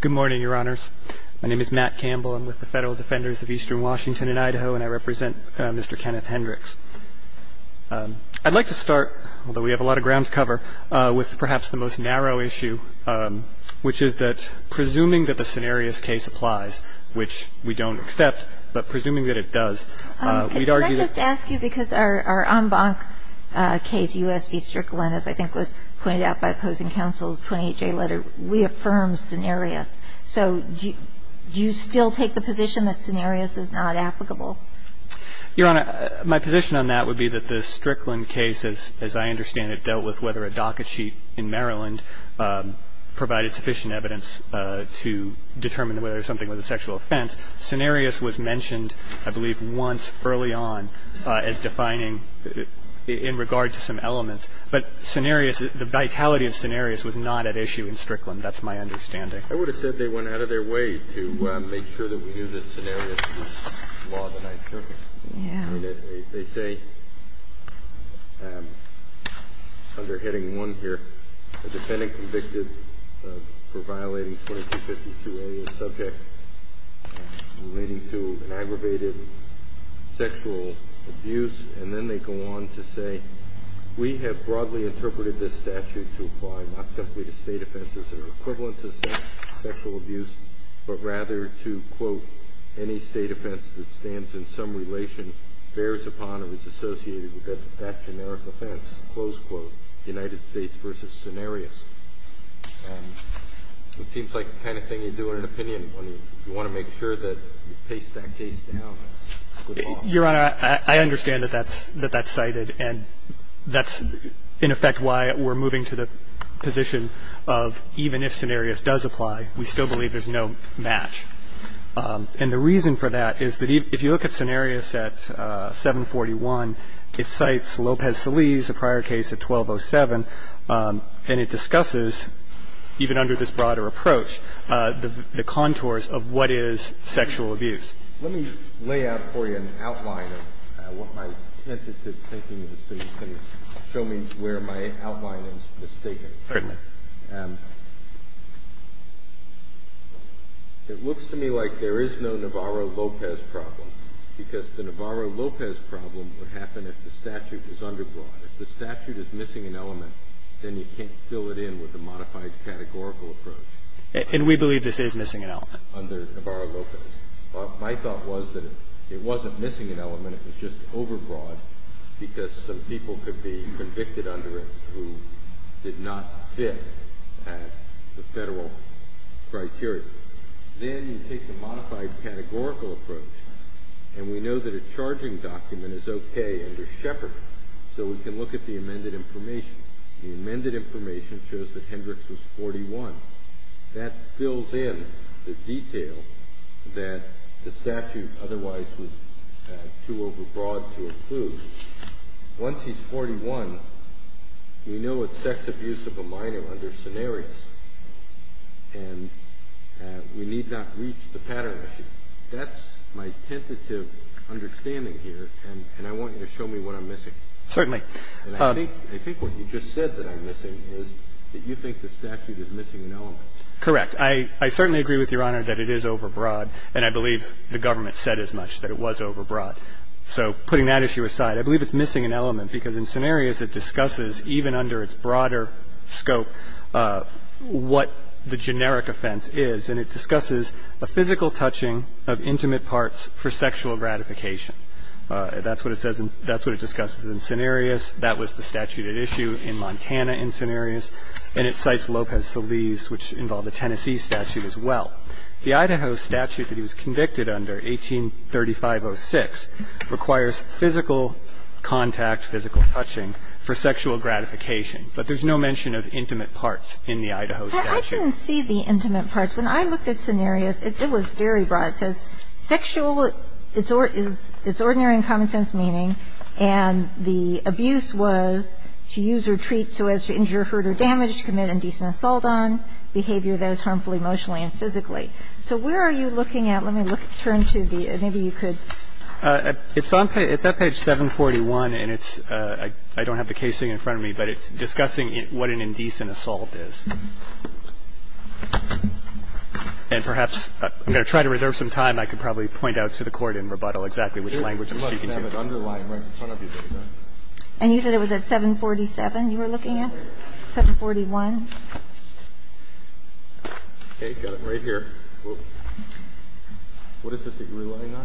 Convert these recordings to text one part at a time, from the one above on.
Good morning, Your Honors. My name is Matt Campbell. I'm with the Federal Defenders of Eastern Washington and Idaho, and I represent Mr. Kenneth Hendryx. I'd like to start, although we have a lot of ground to cover, with perhaps the most narrow issue, which is that presuming that the scenarios case applies, which we don't accept, but presuming that it does, we'd argue that- So do you still take the position that scenarios is not applicable? Your Honor, my position on that would be that the Strickland case, as I understand it, dealt with whether a docket sheet in Maryland provided sufficient evidence to determine whether something was a sexual offense. Scenarios was mentioned, I believe, once early on as defining in regard to some elements. But scenarios was not at issue in Strickland. That's my understanding. I would have said they went out of their way to make sure that we knew that scenarios was law of the ninth circuit. Yeah. They say, under Heading 1 here, a defendant convicted for violating 2252A is subject relating to an aggravated sexual abuse, and then they go on to say, we have broadly interpreted this statute to apply not simply to State offenses that are equivalent to sexual abuse, but rather to, quote, any State offense that stands in some relation bears upon or is associated with that generic offense, close quote, United States v. Scenarios. It seems like the kind of thing you do in an opinion when you want to make sure that you paste that case down as good law. Your Honor, I understand that that's cited, and that's, in effect, why we're moving to the position of even if Scenarios does apply, we still believe there's no match. And the reason for that is that if you look at Scenarios at 741, it cites Lopez-Saliz, a prior case at 1207, and it discusses, even under this broader approach, the contours of what is sexual abuse. Let me lay out for you an outline of what my tentative thinking is, so you can show me where my outline is mistaken. Certainly. It looks to me like there is no Navarro-Lopez problem, because the Navarro-Lopez problem would happen if the statute was underbrought. If the statute is missing an element, then you can't fill it in with a modified categorical approach. And we believe this is missing an element. Under Navarro-Lopez. My thought was that it wasn't missing an element, it was just overbrought, because some people could be convicted under it who did not fit the Federal criteria. Then you take the modified categorical approach, and we know that a charging document is okay under Shepard, so we can look at the amended information. The amended information shows that Hendricks was 41. That fills in the detail that the statute otherwise was too overbrought to include. Once he's 41, we know it's sex abuse of a minor under scenarios, and we need not reach the pattern issue. That's my tentative understanding here, and I want you to show me what I'm missing. Certainly. And I think what you just said that I'm missing is that you think the statute is missing an element. Correct. I certainly agree with Your Honor that it is overbroad, and I believe the government said as much, that it was overbroad. So putting that issue aside, I believe it's missing an element, because in scenarios it discusses, even under its broader scope, what the generic offense is, and it discusses a physical touching of intimate parts for sexual gratification. That's what it says in – that's what it discusses in scenarios. That was the statute at issue in Montana in scenarios. And it cites Lopez-Solis, which involved a Tennessee statute as well. The Idaho statute that he was convicted under, 1835-06, requires physical contact, physical touching, for sexual gratification. But there's no mention of intimate parts in the Idaho statute. I didn't see the intimate parts. When I looked at scenarios, it was very broad. It says sexual is ordinary in common sense meaning, and the abuse was to use or treat so as to injure, hurt or damage, commit indecent assault on, behavior that is harmful emotionally and physically. So where are you looking at? Let me turn to the – maybe you could. It's on page – it's at page 741, and it's – I don't have the case thing in front of me, but it's discussing what an indecent assault is. And perhaps – I'm going to try to reserve some time. I could probably point out to the Court in rebuttal exactly which language I'm speaking to. You must have it underlined right in front of you. And you said it was at 747 you were looking at? 741. Okay. Got it right here. What is it that you're relying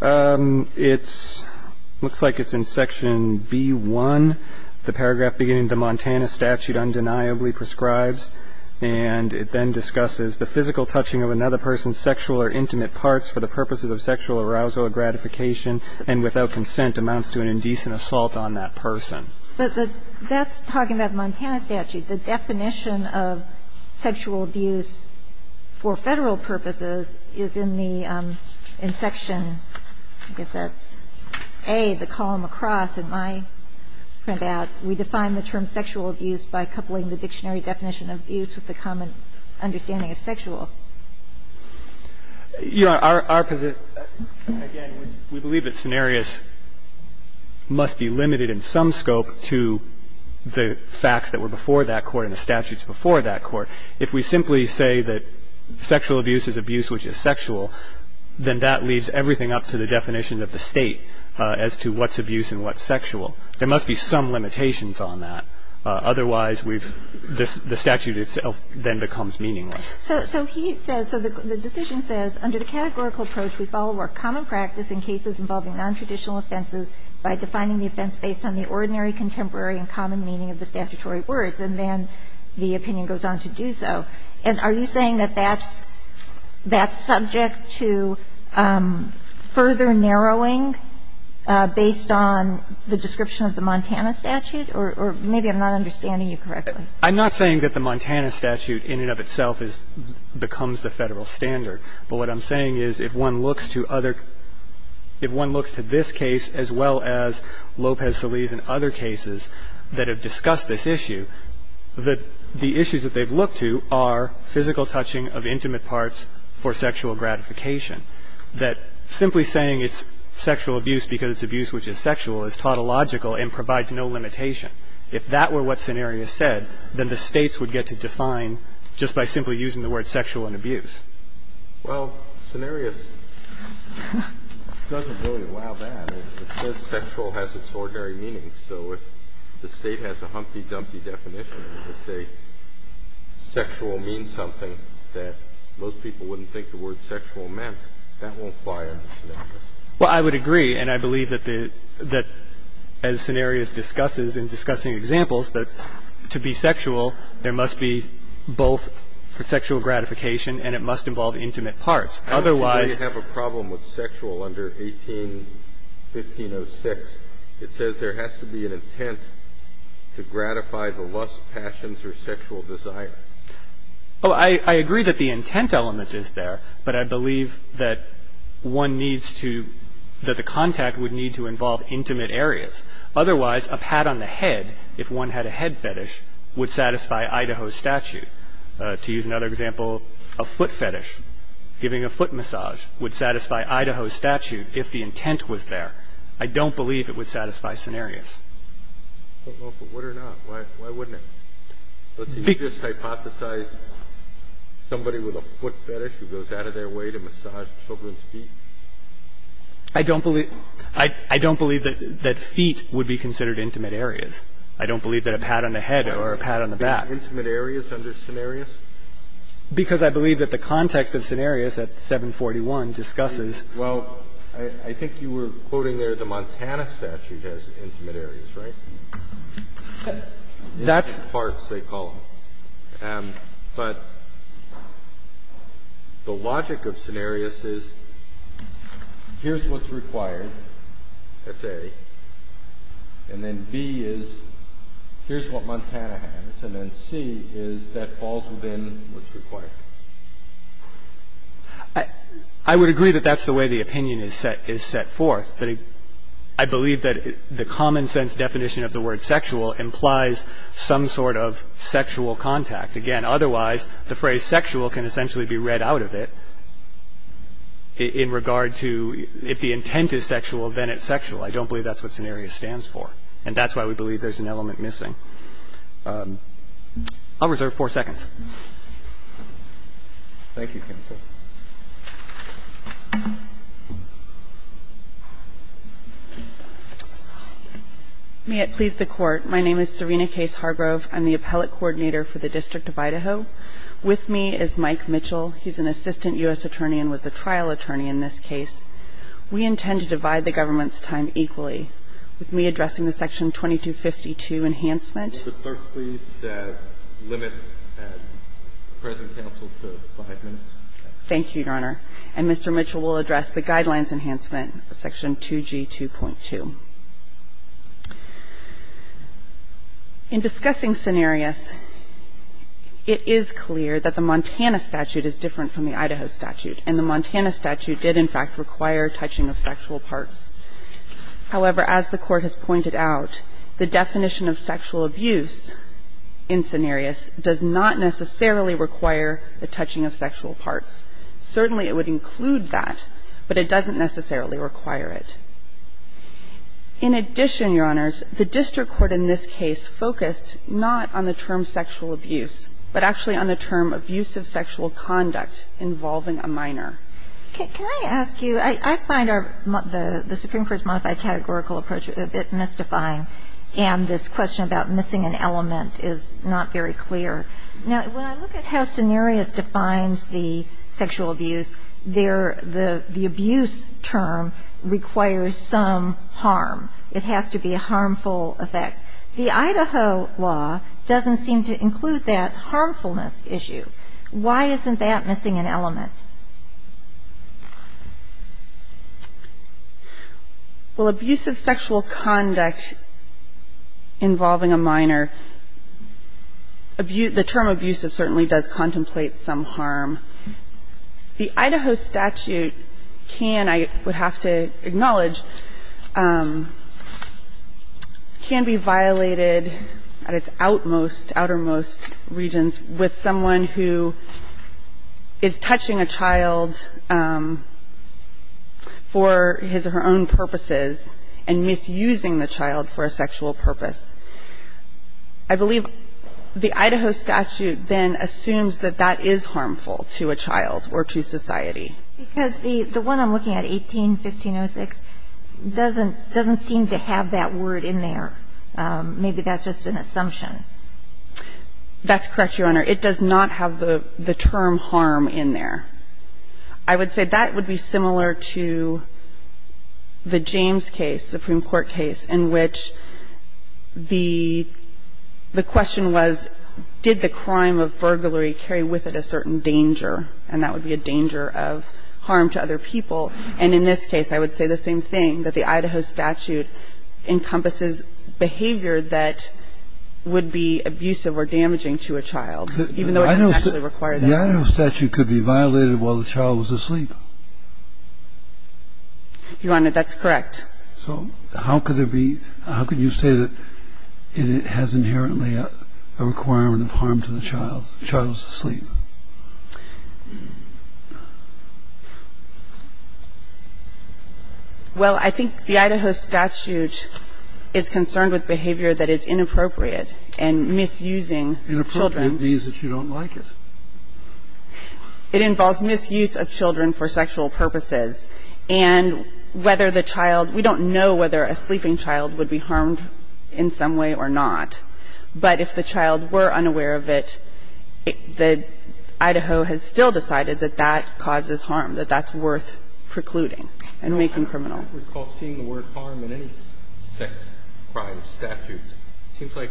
on? It's – looks like it's in section B-1, the paragraph beginning, and the Montana statute undeniably prescribes, and it then discusses, the physical touching of another person's sexual or intimate parts for the purposes of sexual arousal or gratification and without consent amounts to an indecent assault on that person. But that's talking about the Montana statute. The definition of sexual abuse for Federal purposes is in the – in section – I guess that's A, the column across in my printout. We define the term sexual abuse by coupling the dictionary definition of abuse with the common understanding of sexual. Our position – again, we believe that scenarios must be limited in some scope to the facts that were before that court and the statutes before that court. If we simply say that sexual abuse is abuse which is sexual, then that leaves everything up to the definition of the State as to what's abuse and what's sexual. There must be some limitations on that. Otherwise, we've – the statute itself then becomes meaningless. So he says – so the decision says under the categorical approach, we follow our common practice in cases involving nontraditional offenses by defining the offense based on the ordinary, contemporary, and common meaning of the statutory words. And then the opinion goes on to do so. And are you saying that that's – that's subject to further narrowing based on the description of the Montana statute? Or maybe I'm not understanding you correctly. I'm not saying that the Montana statute in and of itself is – becomes the Federal standard. But what I'm saying is if one looks to other – if one looks to this case as well as Lopez-Solis and other cases that have discussed this issue, that the issues that they've looked to are physical touching of intimate parts for sexual gratification. That simply saying it's sexual abuse because it's abuse which is sexual is tautological and provides no limitation. If that were what Cenarius said, then the States would get to define just by simply using the words sexual and abuse. Well, Cenarius doesn't really allow that. It says sexual has its ordinary meaning. So if the State has a humpy-dumpy definition to say sexual means something that most people wouldn't think the word sexual meant, that won't fly under Cenarius. Well, I would agree. And I believe that the – that as Cenarius discusses in discussing examples, that to be sexual, there must be both sexual gratification and it must involve intimate parts. Otherwise – And if you have a problem with sexual under 18-1506, it says there has to be an intent to gratify the lust, passions, or sexual desire. Oh, I agree that the intent element is there, but I believe that one needs to – that the contact would need to involve intimate areas. Otherwise, a pat on the head, if one had a head fetish, would satisfy Idaho's statute. To use another example, a foot fetish. Giving a foot massage would satisfy Idaho's statute if the intent was there. I don't believe it would satisfy Cenarius. I don't know if it would or not. Why wouldn't it? Let's say you just hypothesized somebody with a foot fetish who goes out of their way to massage children's feet. I don't believe – I don't believe that feet would be considered intimate areas. I don't believe that a pat on the head or a pat on the back. Intimate areas under Cenarius? Because I believe that the context of Cenarius at 741 discusses – Well, I think you were quoting there the Montana statute has intimate areas, right? That's – In parts, they call them. But the logic of Cenarius is here's what's required. That's A. And then B is here's what Montana has. And then C is that falls within what's required. I would agree that that's the way the opinion is set forth. But I believe that the common sense definition of the word sexual implies some sort of sexual contact. Again, otherwise, the phrase sexual can essentially be read out of it in regard to if the intent is sexual, then it's sexual. I don't believe that's what Cenarius stands for. And that's why we believe there's an element missing. I'll reserve four seconds. Thank you, counsel. May it please the Court. My name is Serena Case Hargrove. I'm the appellate coordinator for the District of Idaho. With me is Mike Mitchell. He's an assistant U.S. attorney and was the trial attorney in this case. We intend to divide the government's time equally. With me addressing the Section 2252 enhancement – Would the clerk please limit the present counsel to five minutes? Thank you, Your Honor. And Mr. Mitchell will address the Guidelines Enhancement of Section 2G2.2. In discussing Cenarius, it is clear that the Montana statute is different from the Idaho statute, and the Montana statute did, in fact, require touching of sexual parts. However, as the Court has pointed out, the definition of sexual abuse in Cenarius does not necessarily require the touching of sexual parts. Certainly, it would include that, but it doesn't necessarily require it. In addition, Your Honors, the District Court in this case focused not on the term sexual abuse, but actually on the term abusive sexual conduct involving a minor. Can I ask you – I find the Supreme Court's modified categorical approach a bit mystifying, and this question about missing an element is not very clear. Now, when I look at how Cenarius defines the sexual abuse, the abuse term requires some harm. It has to be a harmful effect. The Idaho law doesn't seem to include that harmfulness issue. Why isn't that missing an element? Well, abusive sexual conduct involving a minor, the term abusive certainly does contemplate some harm. The Idaho statute can, I would have to acknowledge, can be violated at its outmost, outermost regions with someone who is touching a child for his or her own purposes and misusing the child for a sexual purpose. I believe the Idaho statute then assumes that that is harmful to a child or to society. Because the one I'm looking at, 18-1506, doesn't seem to have that word in there. Maybe that's just an assumption. That's correct, Your Honor. It does not have the term harm in there. I would say that would be similar to the James case, Supreme Court case, in which the question was, did the crime of burglary carry with it a certain danger? And that would be a danger of harm to other people. And in this case, I would say the same thing, that the Idaho statute encompasses behavior that would be abusive or damaging to a child, even though it doesn't actually require that. The Idaho statute could be violated while the child was asleep. Your Honor, that's correct. So how could there be, how could you say that it has inherently a requirement of harm to the child, the child who's asleep? Well, I think the Idaho statute is concerned with behavior that is inappropriate and misusing children. Inappropriate means that you don't like it. It involves misuse of children for sexual purposes. And whether the child, we don't know whether a sleeping child would be harmed in some way or not. But if the child were unaware of it, the Idaho has still decided that that causes harm, that that's worth precluding and making criminal. I recall seeing the word harm in any sex crime statute. It seems like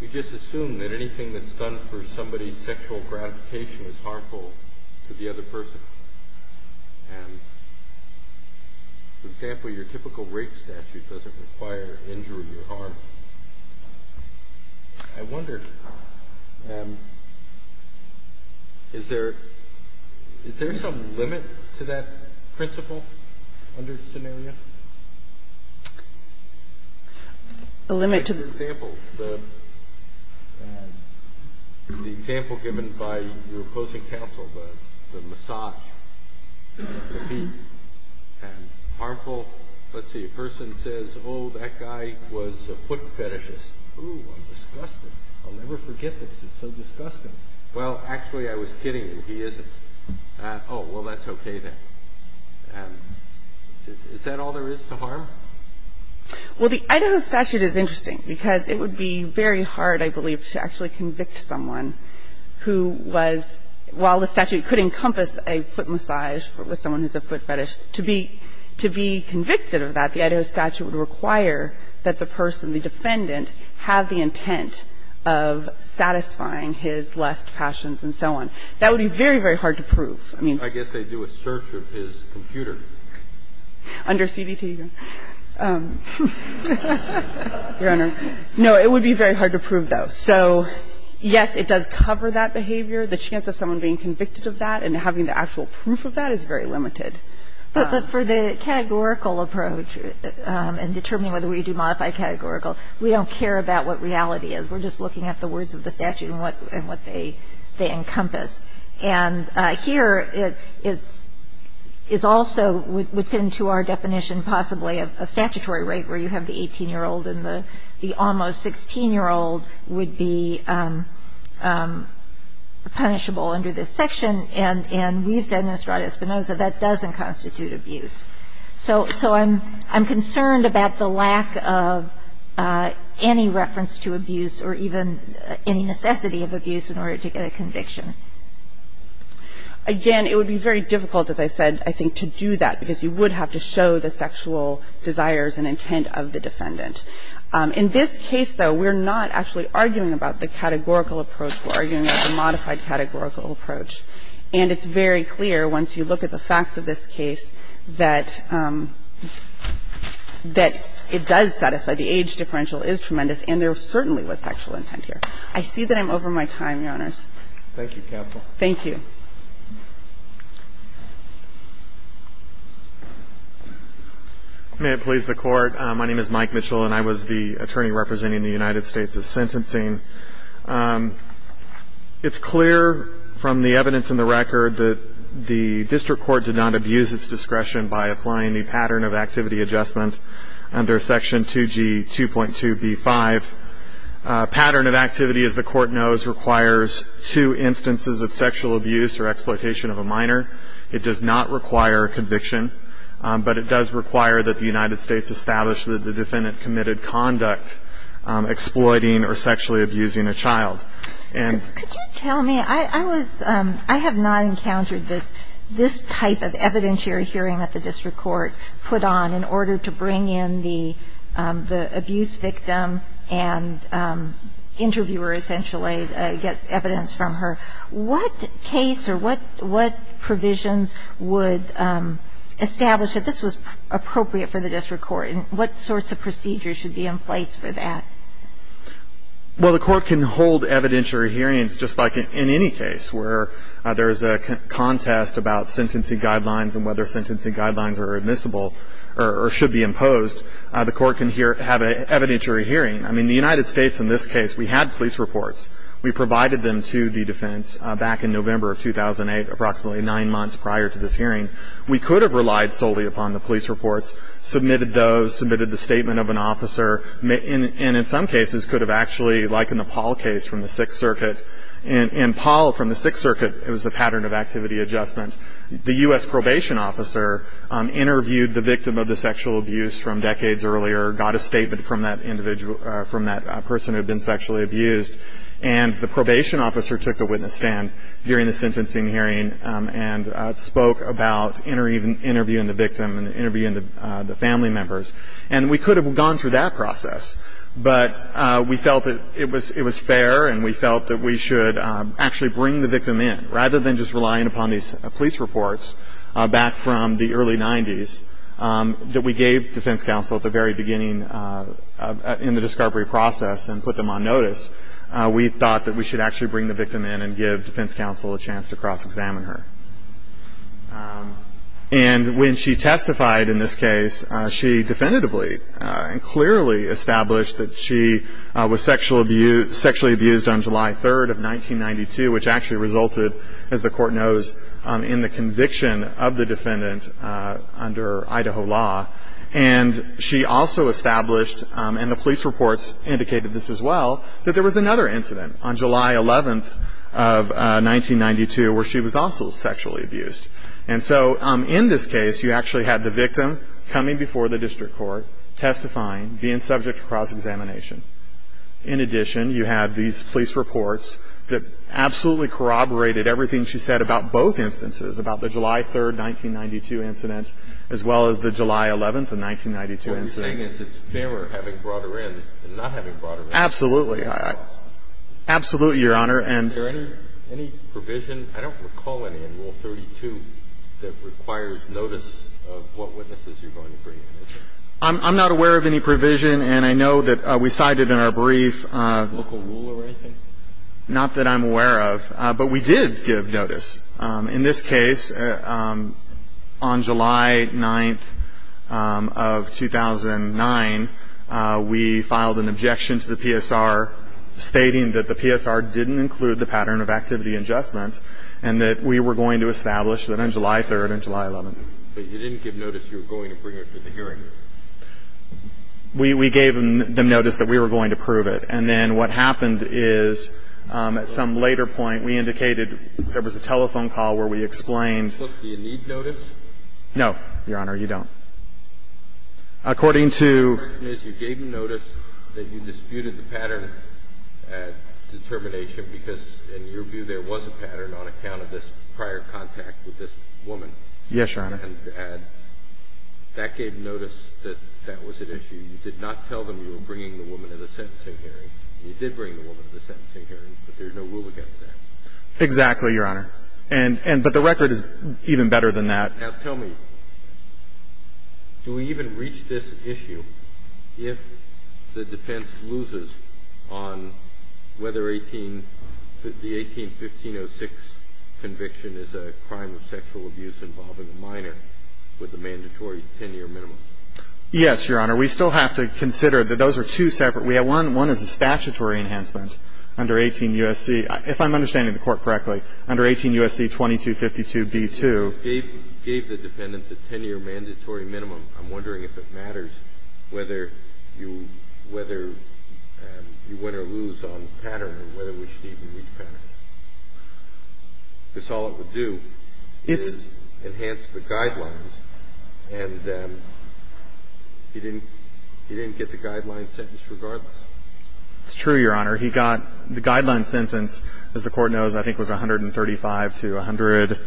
we just assume that anything that's done for somebody's sexual gratification is harmful to the other person. And, for example, your typical rape statute doesn't require injury or harm. Well, I wonder, is there some limit to that principle under the scenario? A limit to the... The example given by your opposing counsel, the massage, the feet, and harmful, let's see, a person says, oh, that guy was a foot fetishist. Oh, I'm disgusted. I'll never forget this. It's so disgusting. Well, actually, I was kidding him. He isn't. Oh, well, that's okay, then. Is that all there is to harm? Well, the Idaho statute is interesting because it would be very hard, I believe, to actually convict someone who was, while the statute could encompass a foot massage with someone who's a foot fetish, to be convicted of that. The Idaho statute would require that the person, the defendant, have the intent of satisfying his lust, passions, and so on. That would be very, very hard to prove. I mean... I guess they do a search of his computer. Under CBT? Your Honor, no, it would be very hard to prove, though. So, yes, it does cover that behavior. The chance of someone being convicted of that and having the actual proof of that is very limited. But for the categorical approach and determining whether we do modify categorical, we don't care about what reality is. We're just looking at the words of the statute and what they encompass. And here, it's also, would fit into our definition, possibly, a statutory rate where you have the 18-year-old and the almost 16-year-old would be punishable under this section. And we've said in Estrada Espinoza that doesn't constitute abuse. So I'm concerned about the lack of any reference to abuse or even any necessity of abuse in order to get a conviction. Again, it would be very difficult, as I said, I think, to do that because you would have to show the sexual desires and intent of the defendant. In this case, though, we're not actually arguing about the categorical approach. We're arguing about the modified categorical approach. And it's very clear, once you look at the facts of this case, that it does satisfy. The age differential is tremendous and there certainly was sexual intent here. I see that I'm over my time, Your Honors. Thank you, Counsel. Thank you. May it please the Court. My name is Mike Mitchell and I was the attorney representing the United States in sentencing. It's clear from the evidence in the record that the District Court did not abuse its discretion by applying the Pattern of Activity Adjustment under Section 2G 2.2b-5. Pattern of Activity, as the Court knows, requires two instances of sexual abuse or exploitation of a minor. It does not require a conviction, but it does require that the United States establish that the defendant committed conduct exploiting or sexually abusing a child. Could you tell me, I have not encountered this type of evidentiary hearing that the District Court put on in order to bring in the abuse victim and interviewer, essentially, get evidence from her. What case or what provisions would establish that this was appropriate for the District Court and what sorts of procedures should be in place for that? Well, the Court can hold evidentiary hearings just like in any case where there is a contest about sentencing guidelines and whether sentencing guidelines are admissible or should be imposed. The Court can have an evidentiary hearing. I mean, the United States, in this case, we had police reports. We provided them to the defense back in November of 2008, approximately nine months prior to this hearing. We could have relied solely upon the police reports, submitted those, submitted the statement of an officer, and in some cases could have actually, like in the Paul case from the Sixth Circuit, in Paul from the Sixth Circuit, it was a pattern of activity adjustment. The U.S. probation officer interviewed the victim of the sexual abuse from decades earlier, got a statement from that individual, from that person who had been sexually abused, and the probation officer took the witness stand during the sentencing hearing and spoke about interviewing the victim and interviewing the family members. And we could have gone through that process, but we felt that it was fair and we felt that we should actually bring the victim in. Rather than just relying upon these police reports back from the early 90s that we gave defense counsel at the very beginning in the discovery process and put them on notice, we thought that we should actually bring the victim in and give defense counsel a chance to cross-examine her. And when she testified in this case, she definitively and clearly established that she was sexually abused on July 3rd of 1992, which actually resulted, as the court knows, in the conviction of the defendant under Idaho law. And she also established, and the police reports indicated this as well, that there was another incident on July 11th of 1992 where she was also sexually abused. And so in this case, you actually had the victim coming before the district court, testifying, being subject to cross-examination. In addition, you have these police reports that absolutely corroborated everything she said about both instances, about the July 3rd, 1992 incident, as well as the July 11th of 1992 incident. having brought her in than not having brought her in. Absolutely. Absolutely, Your Honor. Is there any provision? I don't recall any in Rule 32 that requires notice of what witnesses you're going to bring in. I'm not aware of any provision. And I know that we cited in our brief a local rule or anything? Not that I'm aware of. But we did give notice. In this case, on July 9th of 2009, we filed an objection to the PSR stating that the PSR didn't include the pattern of activity and adjustment and that we were going to establish that on July 3rd and July 11th. But you didn't give notice you were going to bring her to the hearing? We gave them notice that we were going to prove it. And then what happened is at some later point, we indicated there was a telephone call where we explained Do you need notice? No, Your Honor. You don't. According to Your Honor, the question is you gave them notice that you disputed the pattern at determination because in your view there was a pattern on account of this prior contact with this woman. Yes, Your Honor. And that gave notice that that was at issue. You did not tell them you were bringing the woman to the sentencing hearing. You did bring the woman to the sentencing hearing, but there's no rule against that. Exactly, Your Honor. But the record is even better than that. Now tell me, do we even reach this issue if the defense loses on whether 18 the 18-1506 conviction is a crime of sexual abuse involving a minor with a mandatory 10-year minimum? Yes, Your Honor. We still have to consider that those are two separate we have one one is a statutory enhancement under 18 U.S.C. if I'm understanding the Court correctly under 18 U.S.C. 2252b2 You gave the defendant the 10-year mandatory minimum. I'm wondering if it matters whether you win or lose on the pattern or whether we should even reach pattern. Because all it would do is enhance the guidelines and he didn't get the guideline sentence regardless. It's true, Your Honor. He got the guideline sentence as the Court knows I think it was 135 to 100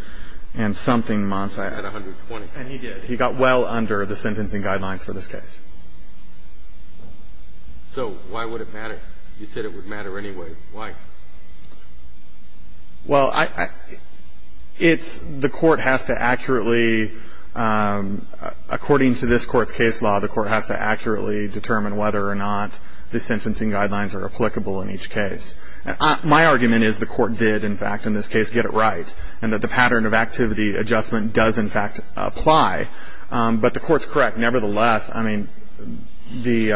and something months. I had 120. And he did. He got well under the sentencing guidelines for this case. So why would it matter? You said it would matter anyway. Why? Well, I it's the Court has to accurately according to this Court's case law the Court has to accurately determine whether or not the sentencing guidelines are applicable in each case. My argument is the Court did in fact in this case get it right and that the pattern of activity adjustment does in fact apply but the Court's correct. Nevertheless, I mean the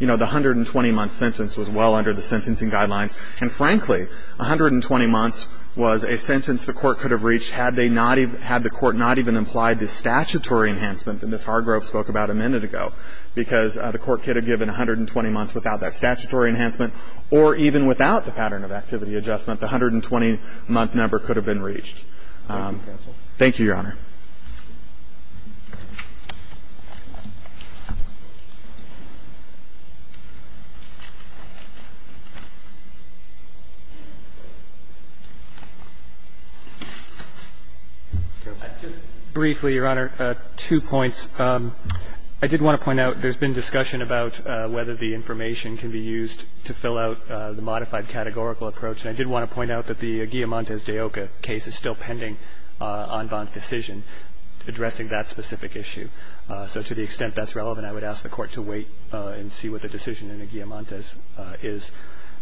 120-month sentence was well under the sentencing guidelines and frankly 120 months was a sentence the Court could have reached had they not had the Court not even implied the statutory enhancement that Ms. Hargrove spoke about a minute ago because the Court could have given or even without the pattern of activity adjustment the 120-month number could have been reached. Thank you, counsel. Thank you, Your Honor. Just briefly, Your Honor. Two points. I did want to point out there's been discussion about whether the information can be used to fill out the modified categorical approach and I did want to point out that the Guilliamontes-Deoka case is still pending on bond decisions. We're still waiting on a decision addressing that specific issue. So to the extent that's relevant I would ask the Court to wait and see what the decision in the Guilliamontes is.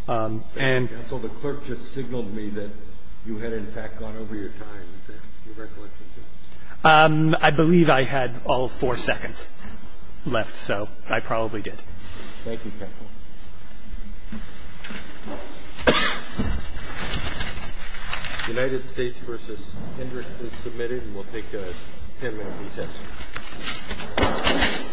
Thank you, counsel. The clerk just signaled me that you had in fact gone over your time and said you recollected it. I believe I had is submitted and will take the floor. Thank you, counsel. United States v. Hendricks is submitted and will take the floor. Thank you, counsel. United States v. Hendricks is submitted and will take the floor. Thank you, counsel.